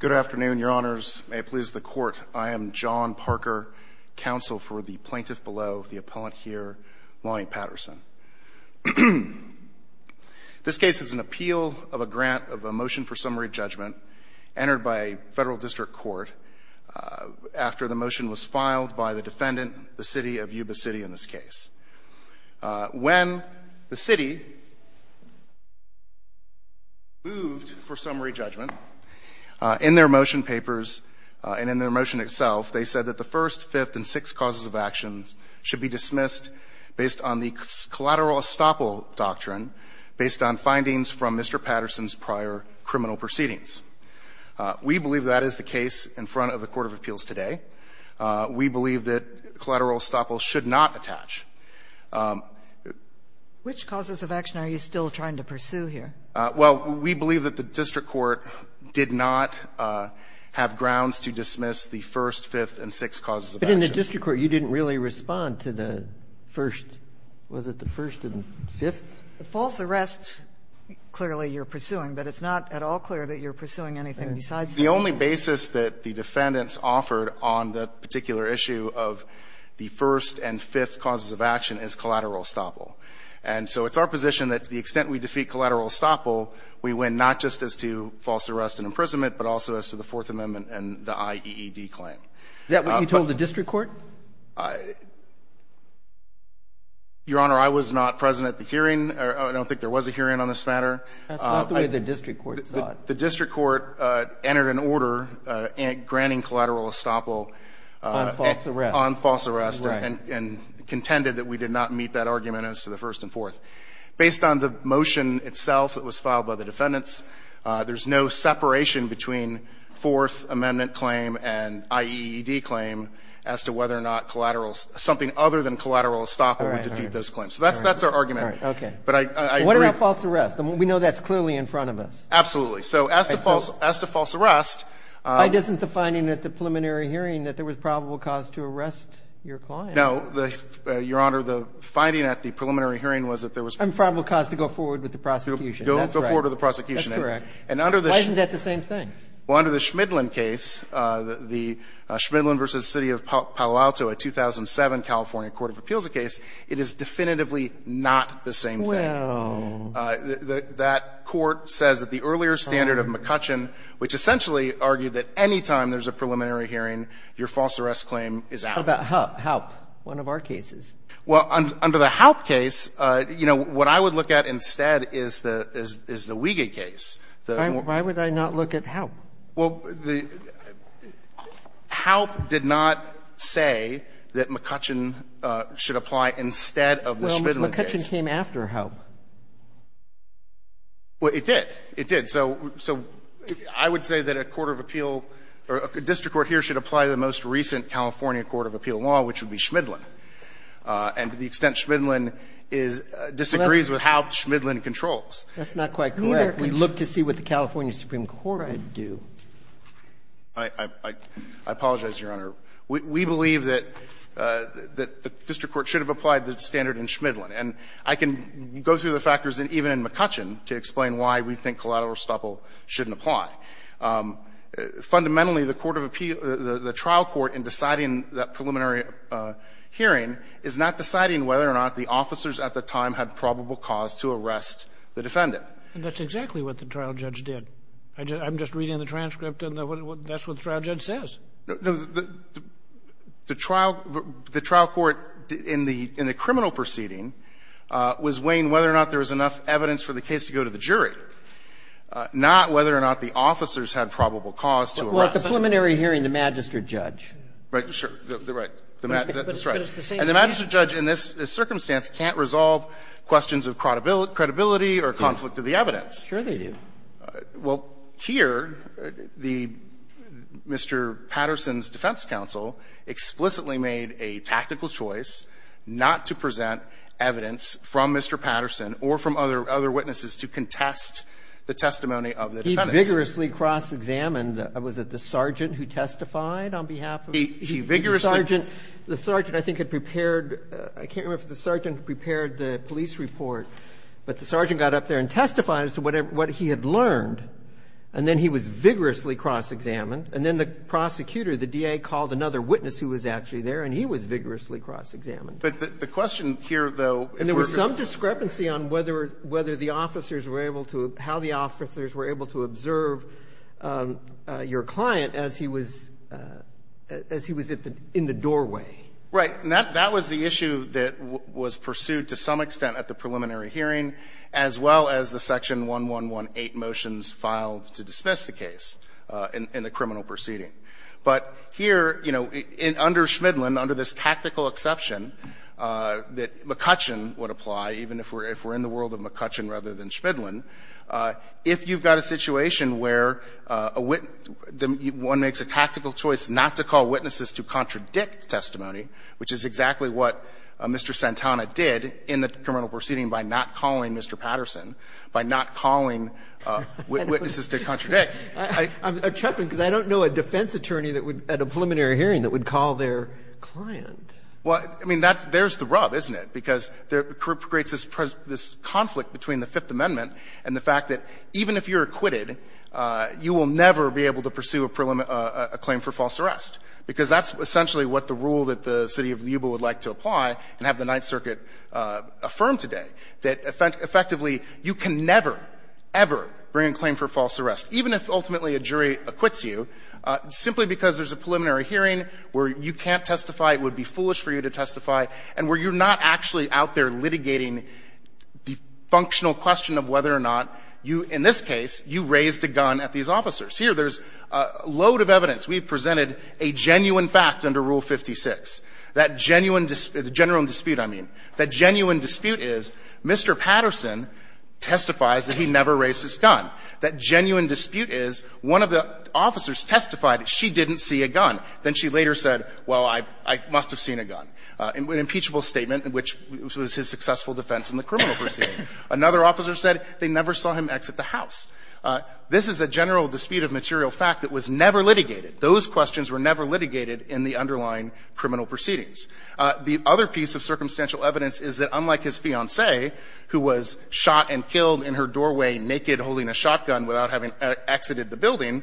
Good afternoon, Your Honors. May it please the Court, I am John Parker, counsel for the plaintiff below, the appellant here, Lonnie Patterson. This case is an appeal of a grant of a motion for summary judgment entered by a federal district court after the motion was filed by the defendant, the City of Yuba City, in this case. When the city moved for summary judgment, in their motion papers and in their motion itself, they said that the first, fifth, and sixth causes of actions should be dismissed based on the collateral estoppel doctrine, based on findings from Mr. Patterson's prior criminal proceedings. We believe that is the case in front of the court of appeals today. We believe that collateral estoppel should not attach. Sotomayor, which causes of action are you still trying to pursue here? Well, we believe that the district court did not have grounds to dismiss the first, fifth, and sixth causes of action. But in the district court, you didn't really respond to the first – was it the first and fifth? The false arrest, clearly, you're pursuing, but it's not at all clear that you're pursuing anything besides that. The only basis that the defendants offered on that particular issue of the first and fifth causes of action is collateral estoppel. And so it's our position that to the extent we defeat collateral estoppel, we win not just as to false arrest and imprisonment, but also as to the Fourth Amendment and the IEED claim. Is that what you told the district court? Your Honor, I was not present at the hearing. I don't think there was a hearing on this matter. That's not the way the district court thought. The district court entered an order granting collateral estoppel on false arrest and contended that we did not meet that argument as to the first and fourth. Based on the motion itself that was filed by the defendants, there's no separation between Fourth Amendment claim and IEED claim as to whether or not collateral something other than collateral estoppel would defeat those claims. So that's our argument. All right. Okay. But I agree. What about false arrest? We know that's clearly in front of us. Absolutely. So as to false arrest. But isn't the finding at the preliminary hearing that there was probable cause to arrest your client? No, Your Honor. The finding at the preliminary hearing was that there was probable cause to go forward with the prosecution. Go forward with the prosecution. That's correct. And under the. Why isn't that the same thing? Well, under the Schmidlin case, the Schmidlin v. City of Palo Alto, a 2007 California court of appeals case, it is definitively not the same thing. Well. That court says that the earlier standard of McCutcheon, which essentially argued that any time there's a preliminary hearing, your false arrest claim is out. How about HALP, one of our cases? Well, under the HALP case, you know, what I would look at instead is the Wiege case. Why would I not look at HALP? Well, the HALP did not say that McCutcheon should apply instead of the Schmidlin case. Well, McCutcheon came after HALP. Well, it did. It did. So I would say that a court of appeal or a district court here should apply the most recent California court of appeal law, which would be Schmidlin. And to the extent Schmidlin disagrees with how Schmidlin controls. That's not quite correct. We'd look to see what the California Supreme Court would do. I apologize, Your Honor. We believe that the district court should have applied the standard in Schmidlin. And I can go through the factors even in McCutcheon to explain why we think collateral estoppel shouldn't apply. Fundamentally, the court of appeal, the trial court in deciding that preliminary hearing is not deciding whether or not the officers at the time had probable cause to arrest the defendant. And that's exactly what the trial judge did. I'm just reading the transcript and that's what the trial judge says. The trial court in the criminal proceeding was weighing whether or not there was enough evidence for the case to go to the jury, not whether or not the officers had probable cause to arrest. Well, at the preliminary hearing, the magistrate judge. Right. Sure. Right. That's right. And the magistrate judge in this circumstance can't resolve questions of credibility or conflict of the evidence. Sure they do. Well, here, the Mr. Patterson's defense counsel explicitly made a tactical choice not to present evidence from Mr. Patterson or from other witnesses to contest the testimony of the defendants. He vigorously cross-examined, was it the sergeant who testified on behalf of him? He vigorously. The sergeant, I think, had prepared the police report, but the sergeant could not get up there and testify as to what he had learned, and then he was vigorously cross-examined, and then the prosecutor, the DA, called another witness who was actually there, and he was vigorously cross-examined. But the question here, though, if we're going to go back to that. And there was some discrepancy on whether the officers were able to – how the officers were able to observe your client as he was – as he was in the doorway. Right. And that was the issue that was pursued to some extent at the preliminary hearing, as well as the Section 1118 motions filed to dismiss the case in the criminal proceeding. But here, you know, under Schmidlin, under this tactical exception that McCutcheon would apply, even if we're in the world of McCutcheon rather than Schmidlin, if you've got a situation where a witness – one makes a tactical choice not to call witnesses to contradict testimony, which is exactly what Mr. Santana did in the criminal proceeding by not calling Mr. Patterson, by not calling witnesses to contradict. I'm – I'm chuckling because I don't know a defense attorney that would, at a preliminary hearing, that would call their client. Well, I mean, that's – there's the rub, isn't it? Because there creates this – this conflict between the Fifth Amendment and the fact that even if you're acquitted, you will never be able to pursue a preliminary – a claim for false arrest, because that's essentially what the rule that the city of Yuba would like to apply and have the Ninth Circuit affirm today, that effectively you can never, ever bring a claim for false arrest, even if ultimately a jury acquits you, simply because there's a preliminary hearing where you can't testify, it would be foolish for you to testify, and where you're not actually out there litigating the functional question of whether or not you – in this case, you raised a gun at these officers. Here, there's a load of evidence. We've presented a genuine fact under Rule 56. That genuine – the general dispute, I mean. That genuine dispute is Mr. Patterson testifies that he never raised his gun. That genuine dispute is one of the officers testified that she didn't see a gun. Then she later said, well, I must have seen a gun. An impeachable statement, which was his successful defense in the criminal proceeding. Another officer said they never saw him exit the house. This is a general dispute of material fact that was never litigated. Those questions were never litigated in the underlying criminal proceedings. The other piece of circumstantial evidence is that, unlike his fiancée, who was shot and killed in her doorway, naked, holding a shotgun, without having exited the building,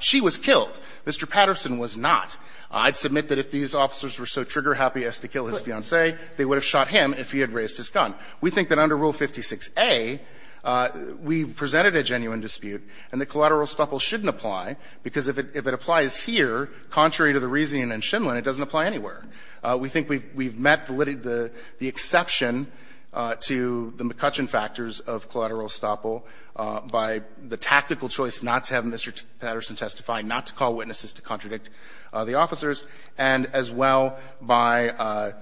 she was killed. Mr. Patterson was not. I'd submit that if these officers were so trigger-happy as to kill his fiancée, they would have shot him if he had raised his gun. We think that under Rule 56a, we've presented a genuine dispute, and the collateral estoppel shouldn't apply, because if it applies here, contrary to the reasoning in Shimlin, it doesn't apply anywhere. We think we've met the exception to the McCutcheon factors of collateral estoppel by the tactical choice not to have Mr. Patterson testify, not to call witnesses to contradict the officers, and as well by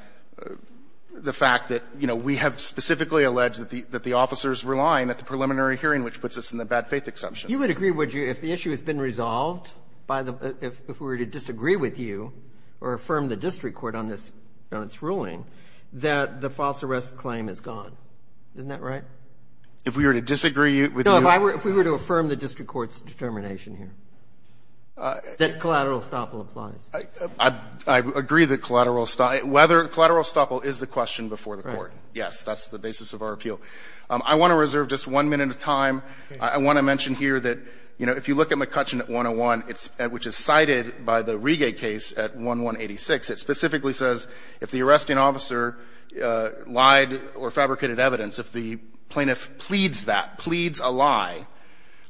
the fact that, you know, we have specifically alleged that the officers were lying at the preliminary hearing, which puts us in the bad-faith exception. You would agree, would you, if the issue has been resolved, if we were to disagree with you or affirm the district court on this ruling, that the false arrest claim is gone. Isn't that right? If we were to disagree with you? No, if we were to affirm the district court's determination here, that collateral estoppel applies. I agree that collateral estoppel is the question before the court. Yes, that's the basis of our appeal. I want to reserve just one minute of time. I want to mention here that, you know, if you look at McCutcheon at 101, it's at which is cited by the Riege case at 1186, it specifically says if the arresting officer lied or fabricated evidence, if the plaintiff pleads that, pleads a lie,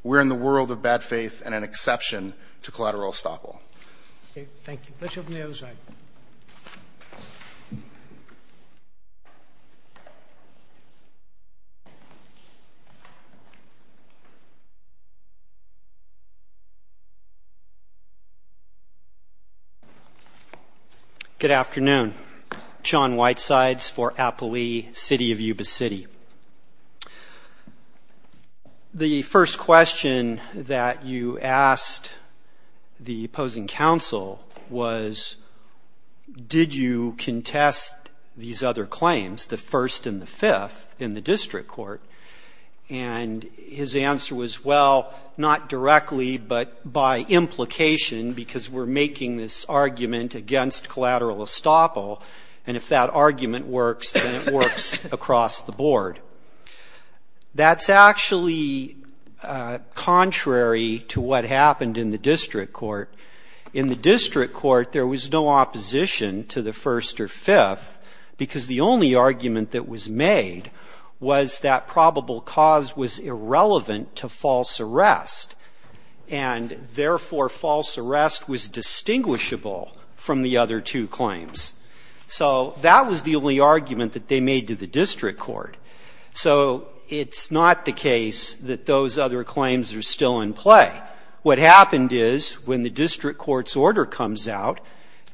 we're in the world of bad faith and an exception to collateral estoppel. Thank you. Let's open the other side. Good afternoon. John Whitesides for Appalooie City of Yuba City. The first question that you asked the opposing counsel was, did you contest these other claims, the first and the fifth, in the district court? And his answer was, well, not directly but by implication because we're making this argument against collateral estoppel and if that argument works, then it works across the board. That's actually contrary to what happened in the district court. In the district court, there was no opposition to the first or fifth because the only argument that was made was that probable cause was irrelevant to false arrest and therefore false arrest. So that was the only argument that they made to the district court. So it's not the case that those other claims are still in play. What happened is when the district court's order comes out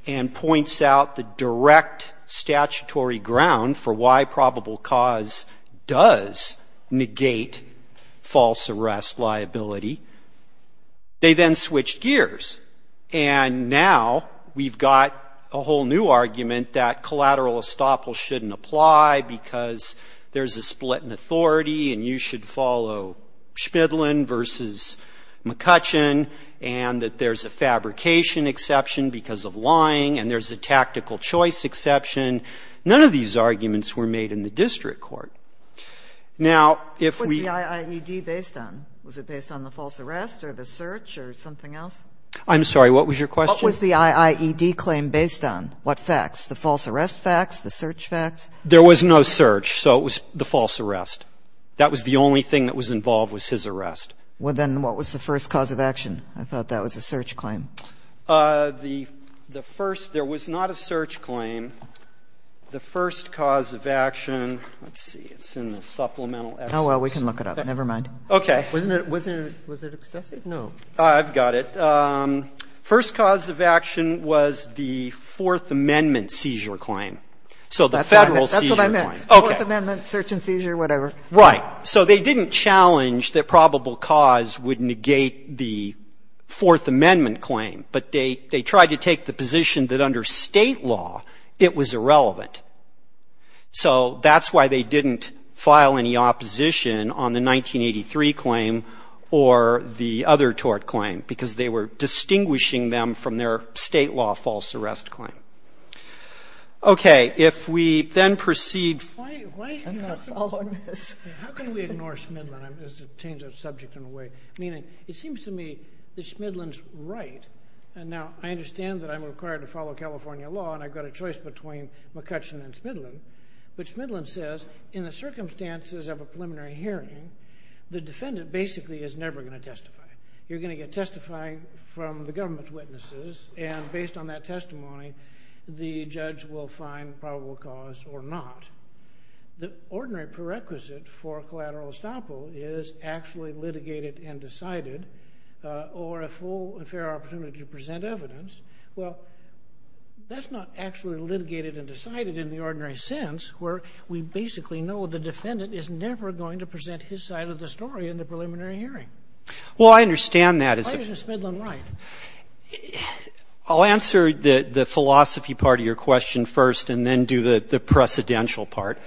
and points out the direct statutory ground for why probable cause does negate false arrest liability, they then switch gears. And now we've got a whole new argument that collateral estoppel shouldn't apply because there's a split in authority and you should follow Schmidlin versus McCutcheon and that there's a fabrication exception because of lying and there's a tactical choice exception. None of these arguments were made in the district court. Now if we- Was the IIED based on, was it based on the false arrest or the search or something else? I'm sorry. What was your question? What was the IIED claim based on? What facts? The false arrest facts? The search facts? There was no search, so it was the false arrest. That was the only thing that was involved was his arrest. Well, then what was the first cause of action? I thought that was a search claim. The first, there was not a search claim. The first cause of action, let's see, it's in the supplemental- Oh, well, we can look it up. Never mind. Okay. Wasn't it, wasn't it, was it excessive? No. I've got it. First cause of action was the Fourth Amendment seizure claim. So the federal seizure claim. That's what I meant. Okay. Fourth Amendment search and seizure, whatever. Right. So they didn't challenge that probable cause would negate the Fourth Amendment claim, but they tried to take the position that under state law, it was irrelevant. So that's why they didn't file any opposition on the 1983 claim or the other tort claim because they were distinguishing them from their state law false arrest claim. Okay. If we then proceed- Why, why- I'm not following this. How can we ignore Smidlen as a change of subject in a way? Meaning, it seems to me that Smidlen's right. And now, I understand that I'm required to follow California law, and I've got a choice between McCutcheon and Smidlen. But Smidlen says, in the circumstances of a preliminary hearing, the defendant basically is never going to testify. You're going to get testifying from the government's witnesses, and based on that testimony, the judge will find probable cause or not. The ordinary prerequisite for collateral estoppel is actually litigated and decided, or a full and fair opportunity to present evidence. Well, that's not actually litigated and decided in the ordinary sense, where we basically know the defendant is never going to present his side of the story in the preliminary hearing. Well, I understand that as a- Why isn't Smidlen right? I'll answer the philosophy part of your question first, and then do the precedential part.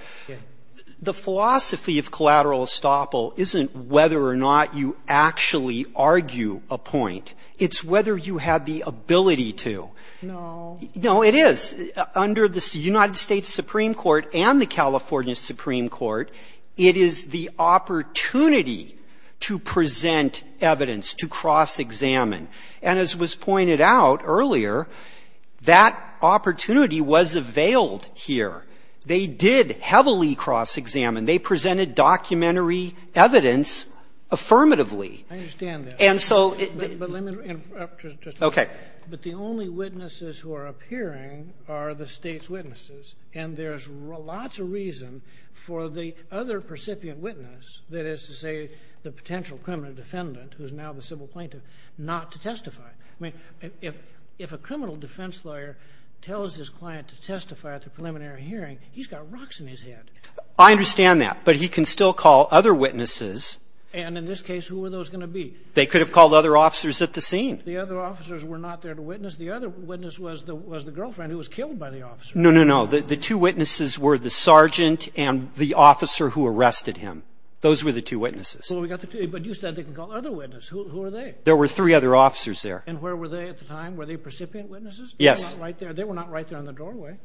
The philosophy of collateral estoppel isn't whether or not you actually argue a point. It's whether you have the ability to. No. No, it is. Under the United States Supreme Court and the California Supreme Court, it is the opportunity to present evidence, to cross-examine. And as was pointed out earlier, that opportunity was availed here. They did heavily cross-examine. They presented documentary evidence affirmatively. I understand that. And so- But let me interrupt just a minute. Okay. But the only witnesses who are appearing are the State's witnesses, and there's lots of reason for the other percipient witness, that is to say the potential criminal defendant, who's now the civil plaintiff, not to testify. I mean, if a criminal defense lawyer tells his client to testify at the preliminary hearing, he's got rocks in his head. I understand that. But he can still call other witnesses. And in this case, who are those going to be? They could have called other officers at the scene. The other officers were not there to witness. The other witness was the girlfriend who was killed by the officer. No, no, no. The two witnesses were the sergeant and the officer who arrested him. Those were the two witnesses. Well, we got the two. But you said they could call other witnesses. Who are they? There were three other officers there. And where were they at the time? Were they percipient witnesses? Yes. They were not right there on the doorway.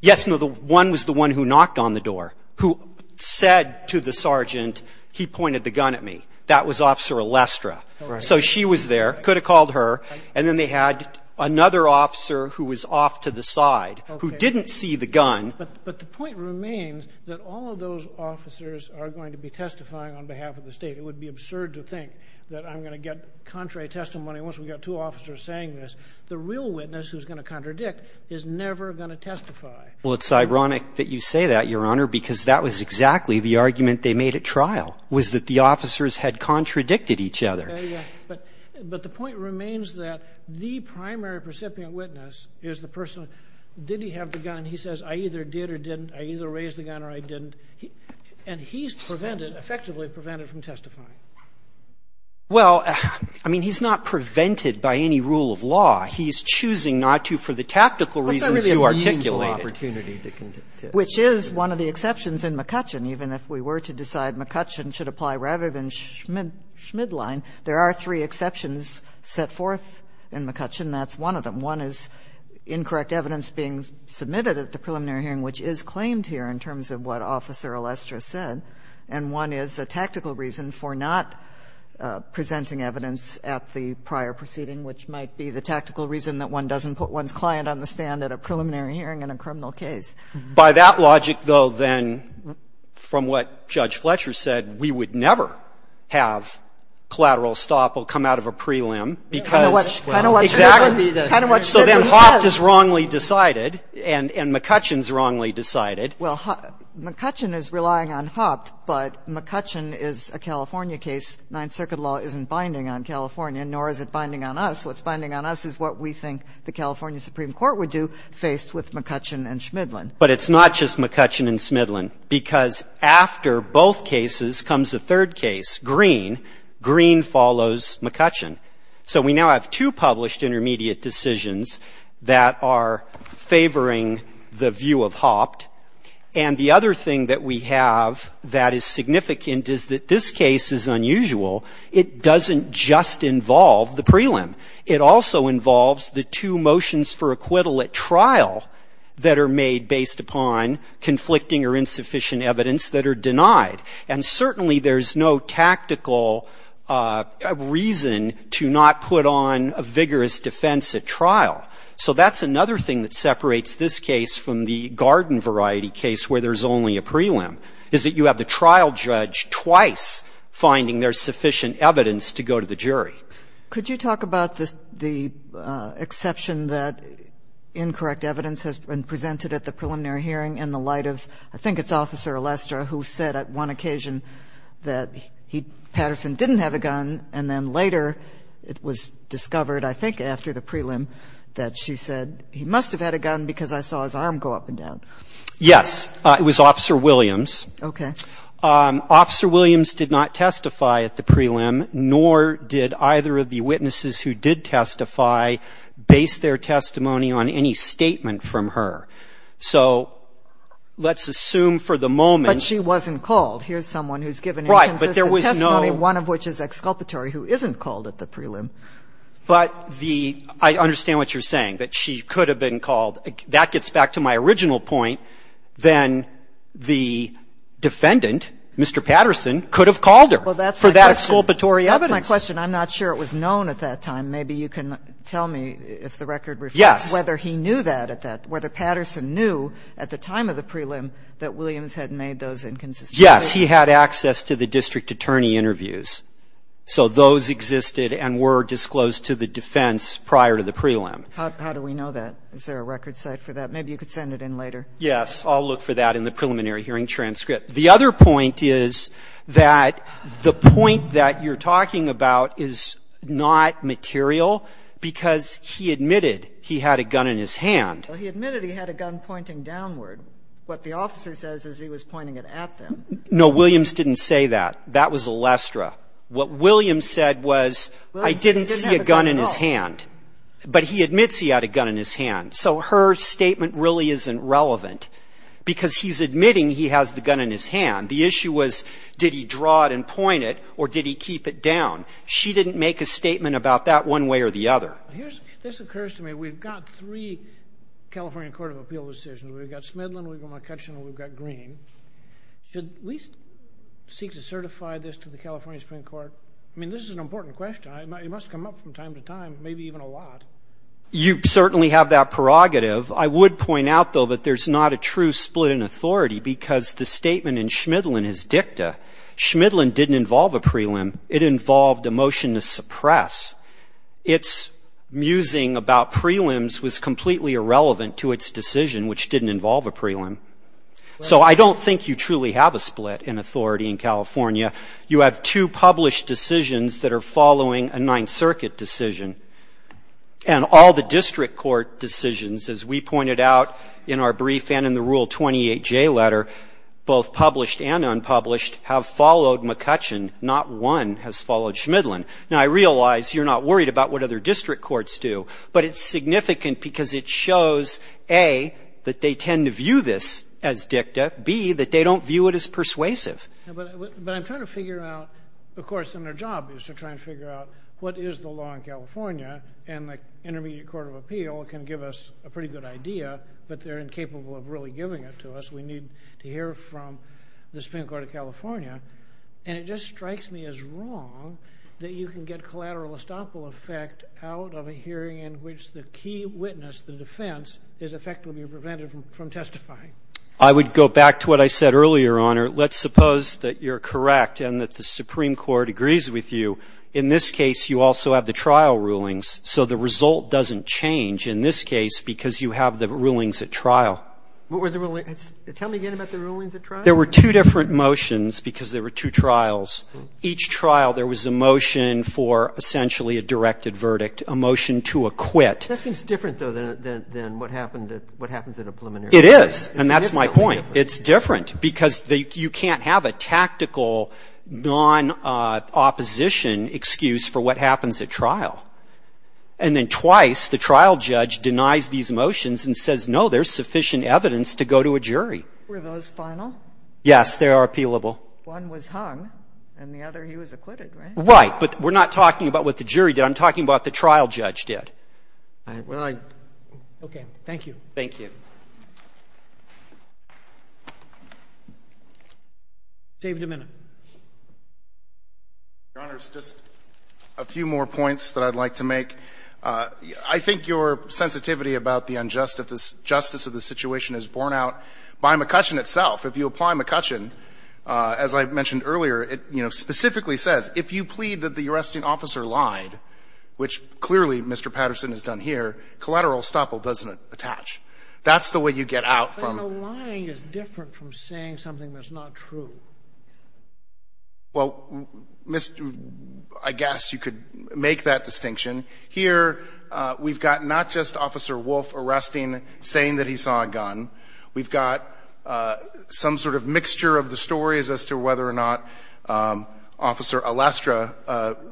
Yes, no. One was the one who knocked on the door, who said to the sergeant, he pointed the gun at me. That was Officer Elestra. So she was there, could have called her. And then they had another officer who was off to the side, who didn't see the gun. But the point remains that all of those officers are going to be testifying on behalf of the State. It would be absurd to think that I'm going to get contrary testimony once we've got two officers saying this. The real witness who's going to contradict is never going to testify. Well, it's ironic that you say that, Your Honor, because that was exactly the argument they made at trial, was that the officers had contradicted each other. Yeah, yeah. But the point remains that the primary percipient witness is the person, did he have the gun? He says, I either did or didn't. I either raised the gun or I didn't. And he's prevented, effectively prevented, from testifying. Well, I mean, he's not prevented by any rule of law. He's choosing not to for the tactical reasons you articulated. That's not really a meaningful opportunity to contend with. Which is one of the exceptions in McCutcheon. Even if we were to decide McCutcheon should apply rather than Schmidline, there are three exceptions set forth in McCutcheon. That's one of them. One is incorrect evidence being submitted at the preliminary hearing, which is claimed here in terms of what Officer Alestra said. And one is a tactical reason for not presenting evidence at the prior proceeding, which might be the tactical reason that one doesn't put one's client on the stand at a preliminary hearing in a criminal case. By that logic, though, then, from what Judge Fletcher said, we would never have collateral estoppel come out of a prelim because, exactly. So then Hopt is wrongly decided, and McCutcheon is wrongly decided. Well, McCutcheon is relying on Hopt, but McCutcheon is a California case. Ninth Circuit law isn't binding on California, nor is it binding on us. What's binding on us is what we think the California Supreme Court would do faced with McCutcheon and Schmidline. But it's not just McCutcheon and Schmidline, because after both cases comes a third case, Green. Green follows McCutcheon. So we now have two published intermediate decisions that are favoring the view of Hopt. And the other thing that we have that is significant is that this case is unusual. It doesn't just involve the prelim. It also involves the two motions for acquittal at trial that are made based upon conflicting or insufficient evidence that are denied. And certainly there's no tactical reason to not put on a vigorous defense at trial. So that's another thing that separates this case from the garden variety case where there's only a prelim, is that you have the trial judge twice finding there's sufficient evidence to go to the jury. Could you talk about the exception that incorrect evidence has been presented at the preliminary hearing in the light of, I think it's Officer Lester who said at one occasion that Patterson didn't have a gun and then later it was discovered, I think, after the prelim that she said he must have had a gun because I saw his arm go up and down. Yes. It was Officer Williams. Okay. Officer Williams did not testify at the prelim, nor did either of the witnesses who did testify base their testimony on any statement from her. So let's assume for the moment. But she wasn't called. Here's someone who's given inconsistent testimony, one of which is exculpatory, who isn't called at the prelim. But the – I understand what you're saying, that she could have been called. That gets back to my original point. Then the defendant, Mr. Patterson, could have called her for that exculpatory evidence. That's my question. I'm not sure it was known at that time. Maybe you can tell me if the record reflects whether he knew that at that – whether those inconsistencies. Yes. He had access to the district attorney interviews. So those existed and were disclosed to the defense prior to the prelim. How do we know that? Is there a record site for that? Maybe you could send it in later. Yes. I'll look for that in the preliminary hearing transcript. The other point is that the point that you're talking about is not material, because he admitted he had a gun in his hand. He admitted he had a gun pointing downward. What the officer says is he was pointing it at them. No, Williams didn't say that. That was Elestra. What Williams said was, I didn't see a gun in his hand. But he admits he had a gun in his hand. So her statement really isn't relevant, because he's admitting he has the gun in his hand. The issue was, did he draw it and point it, or did he keep it down? She didn't make a statement about that one way or the other. This occurs to me. We've got three California court of appeal decisions. We've got Schmidlin, we've got McCutcheon, and we've got Green. Should we seek to certify this to the California Supreme Court? I mean, this is an important question. It must come up from time to time, maybe even a lot. You certainly have that prerogative. I would point out, though, that there's not a true split in authority, because the statement in Schmidlin is dicta. Schmidlin didn't involve a prelim. It involved a motion to suppress. Its musing about prelims was completely irrelevant to its decision, which didn't involve a prelim. So I don't think you truly have a split in authority in California. You have two published decisions that are following a Ninth Circuit decision. And all the district court decisions, as we pointed out in our brief and in the Rule 28J letter, both published and unpublished, have followed McCutcheon. Not one has followed Schmidlin. Now, I realize you're not worried about what other district courts do. But it's significant because it shows, A, that they tend to view this as dicta, B, that they don't view it as persuasive. But I'm trying to figure out, of course, and their job is to try and figure out what is the law in California, and the Intermediate Court of Appeal can give us a pretty good idea, but they're incapable of really giving it to us. We need to hear from the Supreme Court of California. And it just strikes me as wrong that you can get collateral estoppel effect out of a hearing in which the key witness, the defense, is effectively prevented from testifying. I would go back to what I said earlier, Your Honor. Let's suppose that you're correct and that the Supreme Court agrees with you. In this case, you also have the trial rulings. So the result doesn't change in this case because you have the rulings at trial. What were the rulings? Tell me again about the rulings at trial. There were two different motions because there were two trials. Each trial, there was a motion for essentially a directed verdict, a motion to acquit. That seems different, though, than what happens at a preliminary trial. It is, and that's my point. It's different because you can't have a tactical, non-opposition excuse for what happens at trial. And then twice, the trial judge denies these motions and says no, there's sufficient evidence to go to a jury. Were those final? Yes, they are appealable. One was hung, and the other, he was acquitted, right? Right, but we're not talking about what the jury did. I'm talking about what the trial judge did. Well, I. Okay, thank you. Thank you. David, a minute. Your Honor, just a few more points that I'd like to make. I think your sensitivity about the injustice, justice of the situation is borne out by McCutcheon itself. If you apply McCutcheon, as I mentioned earlier, it specifically says if you plead that the arresting officer lied, which clearly Mr. Patterson has done here, collateral estoppel doesn't attach. That's the way you get out from. But a lying is different from saying something that's not true. Well, I guess you could make that distinction. Here, we've got not just Officer Wolfe arresting, saying that he saw a gun. We've got some sort of mixture of the stories as to whether or not Officer Elastra,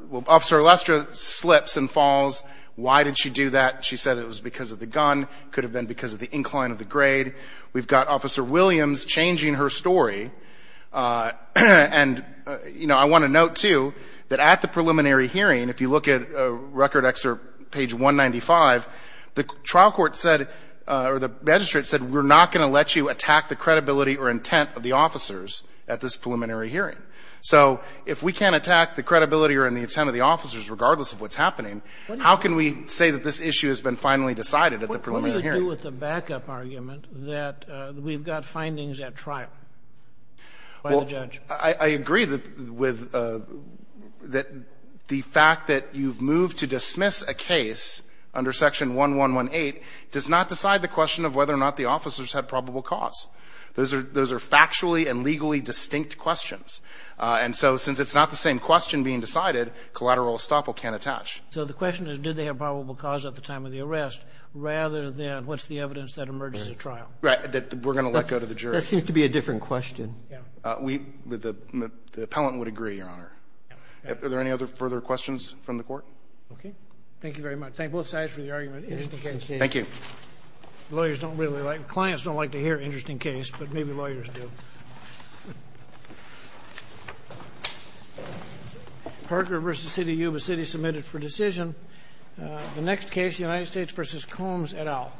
well, Officer Elastra slips and falls. Why did she do that? She said it was because of the gun. Could have been because of the incline of the grade. We've got Officer Williams changing her story. And I want to note, too, that at the preliminary hearing, if you look at record excerpt page 195, the trial court said, or the magistrate said, we're not going to let you attack the credibility or intent of the officers at this preliminary hearing. So if we can't attack the credibility or the intent of the officers regardless of what's happening, how can we say that this issue has been finally decided at the preliminary hearing? What do you do with the backup argument that we've got findings at trial? By the judge. I agree that the fact that you've moved to dismiss a case under section 1118 does not decide the question of whether or not the officers had probable cause. Those are factually and legally distinct questions. And so since it's not the same question being decided, collateral estoppel can't attach. So the question is, did they have probable cause at the time of the arrest, rather than what's the evidence that emerges at trial? Right, that we're going to let go to the jury. That seems to be a different question. We, the appellant would agree, Your Honor. Are there any other further questions from the court? Okay, thank you very much. Thank you. Lawyers don't really like, clients don't like to hear interesting case, but maybe lawyers do. Parker versus City U of the City submitted for decision. The next case, United States versus Combs et al.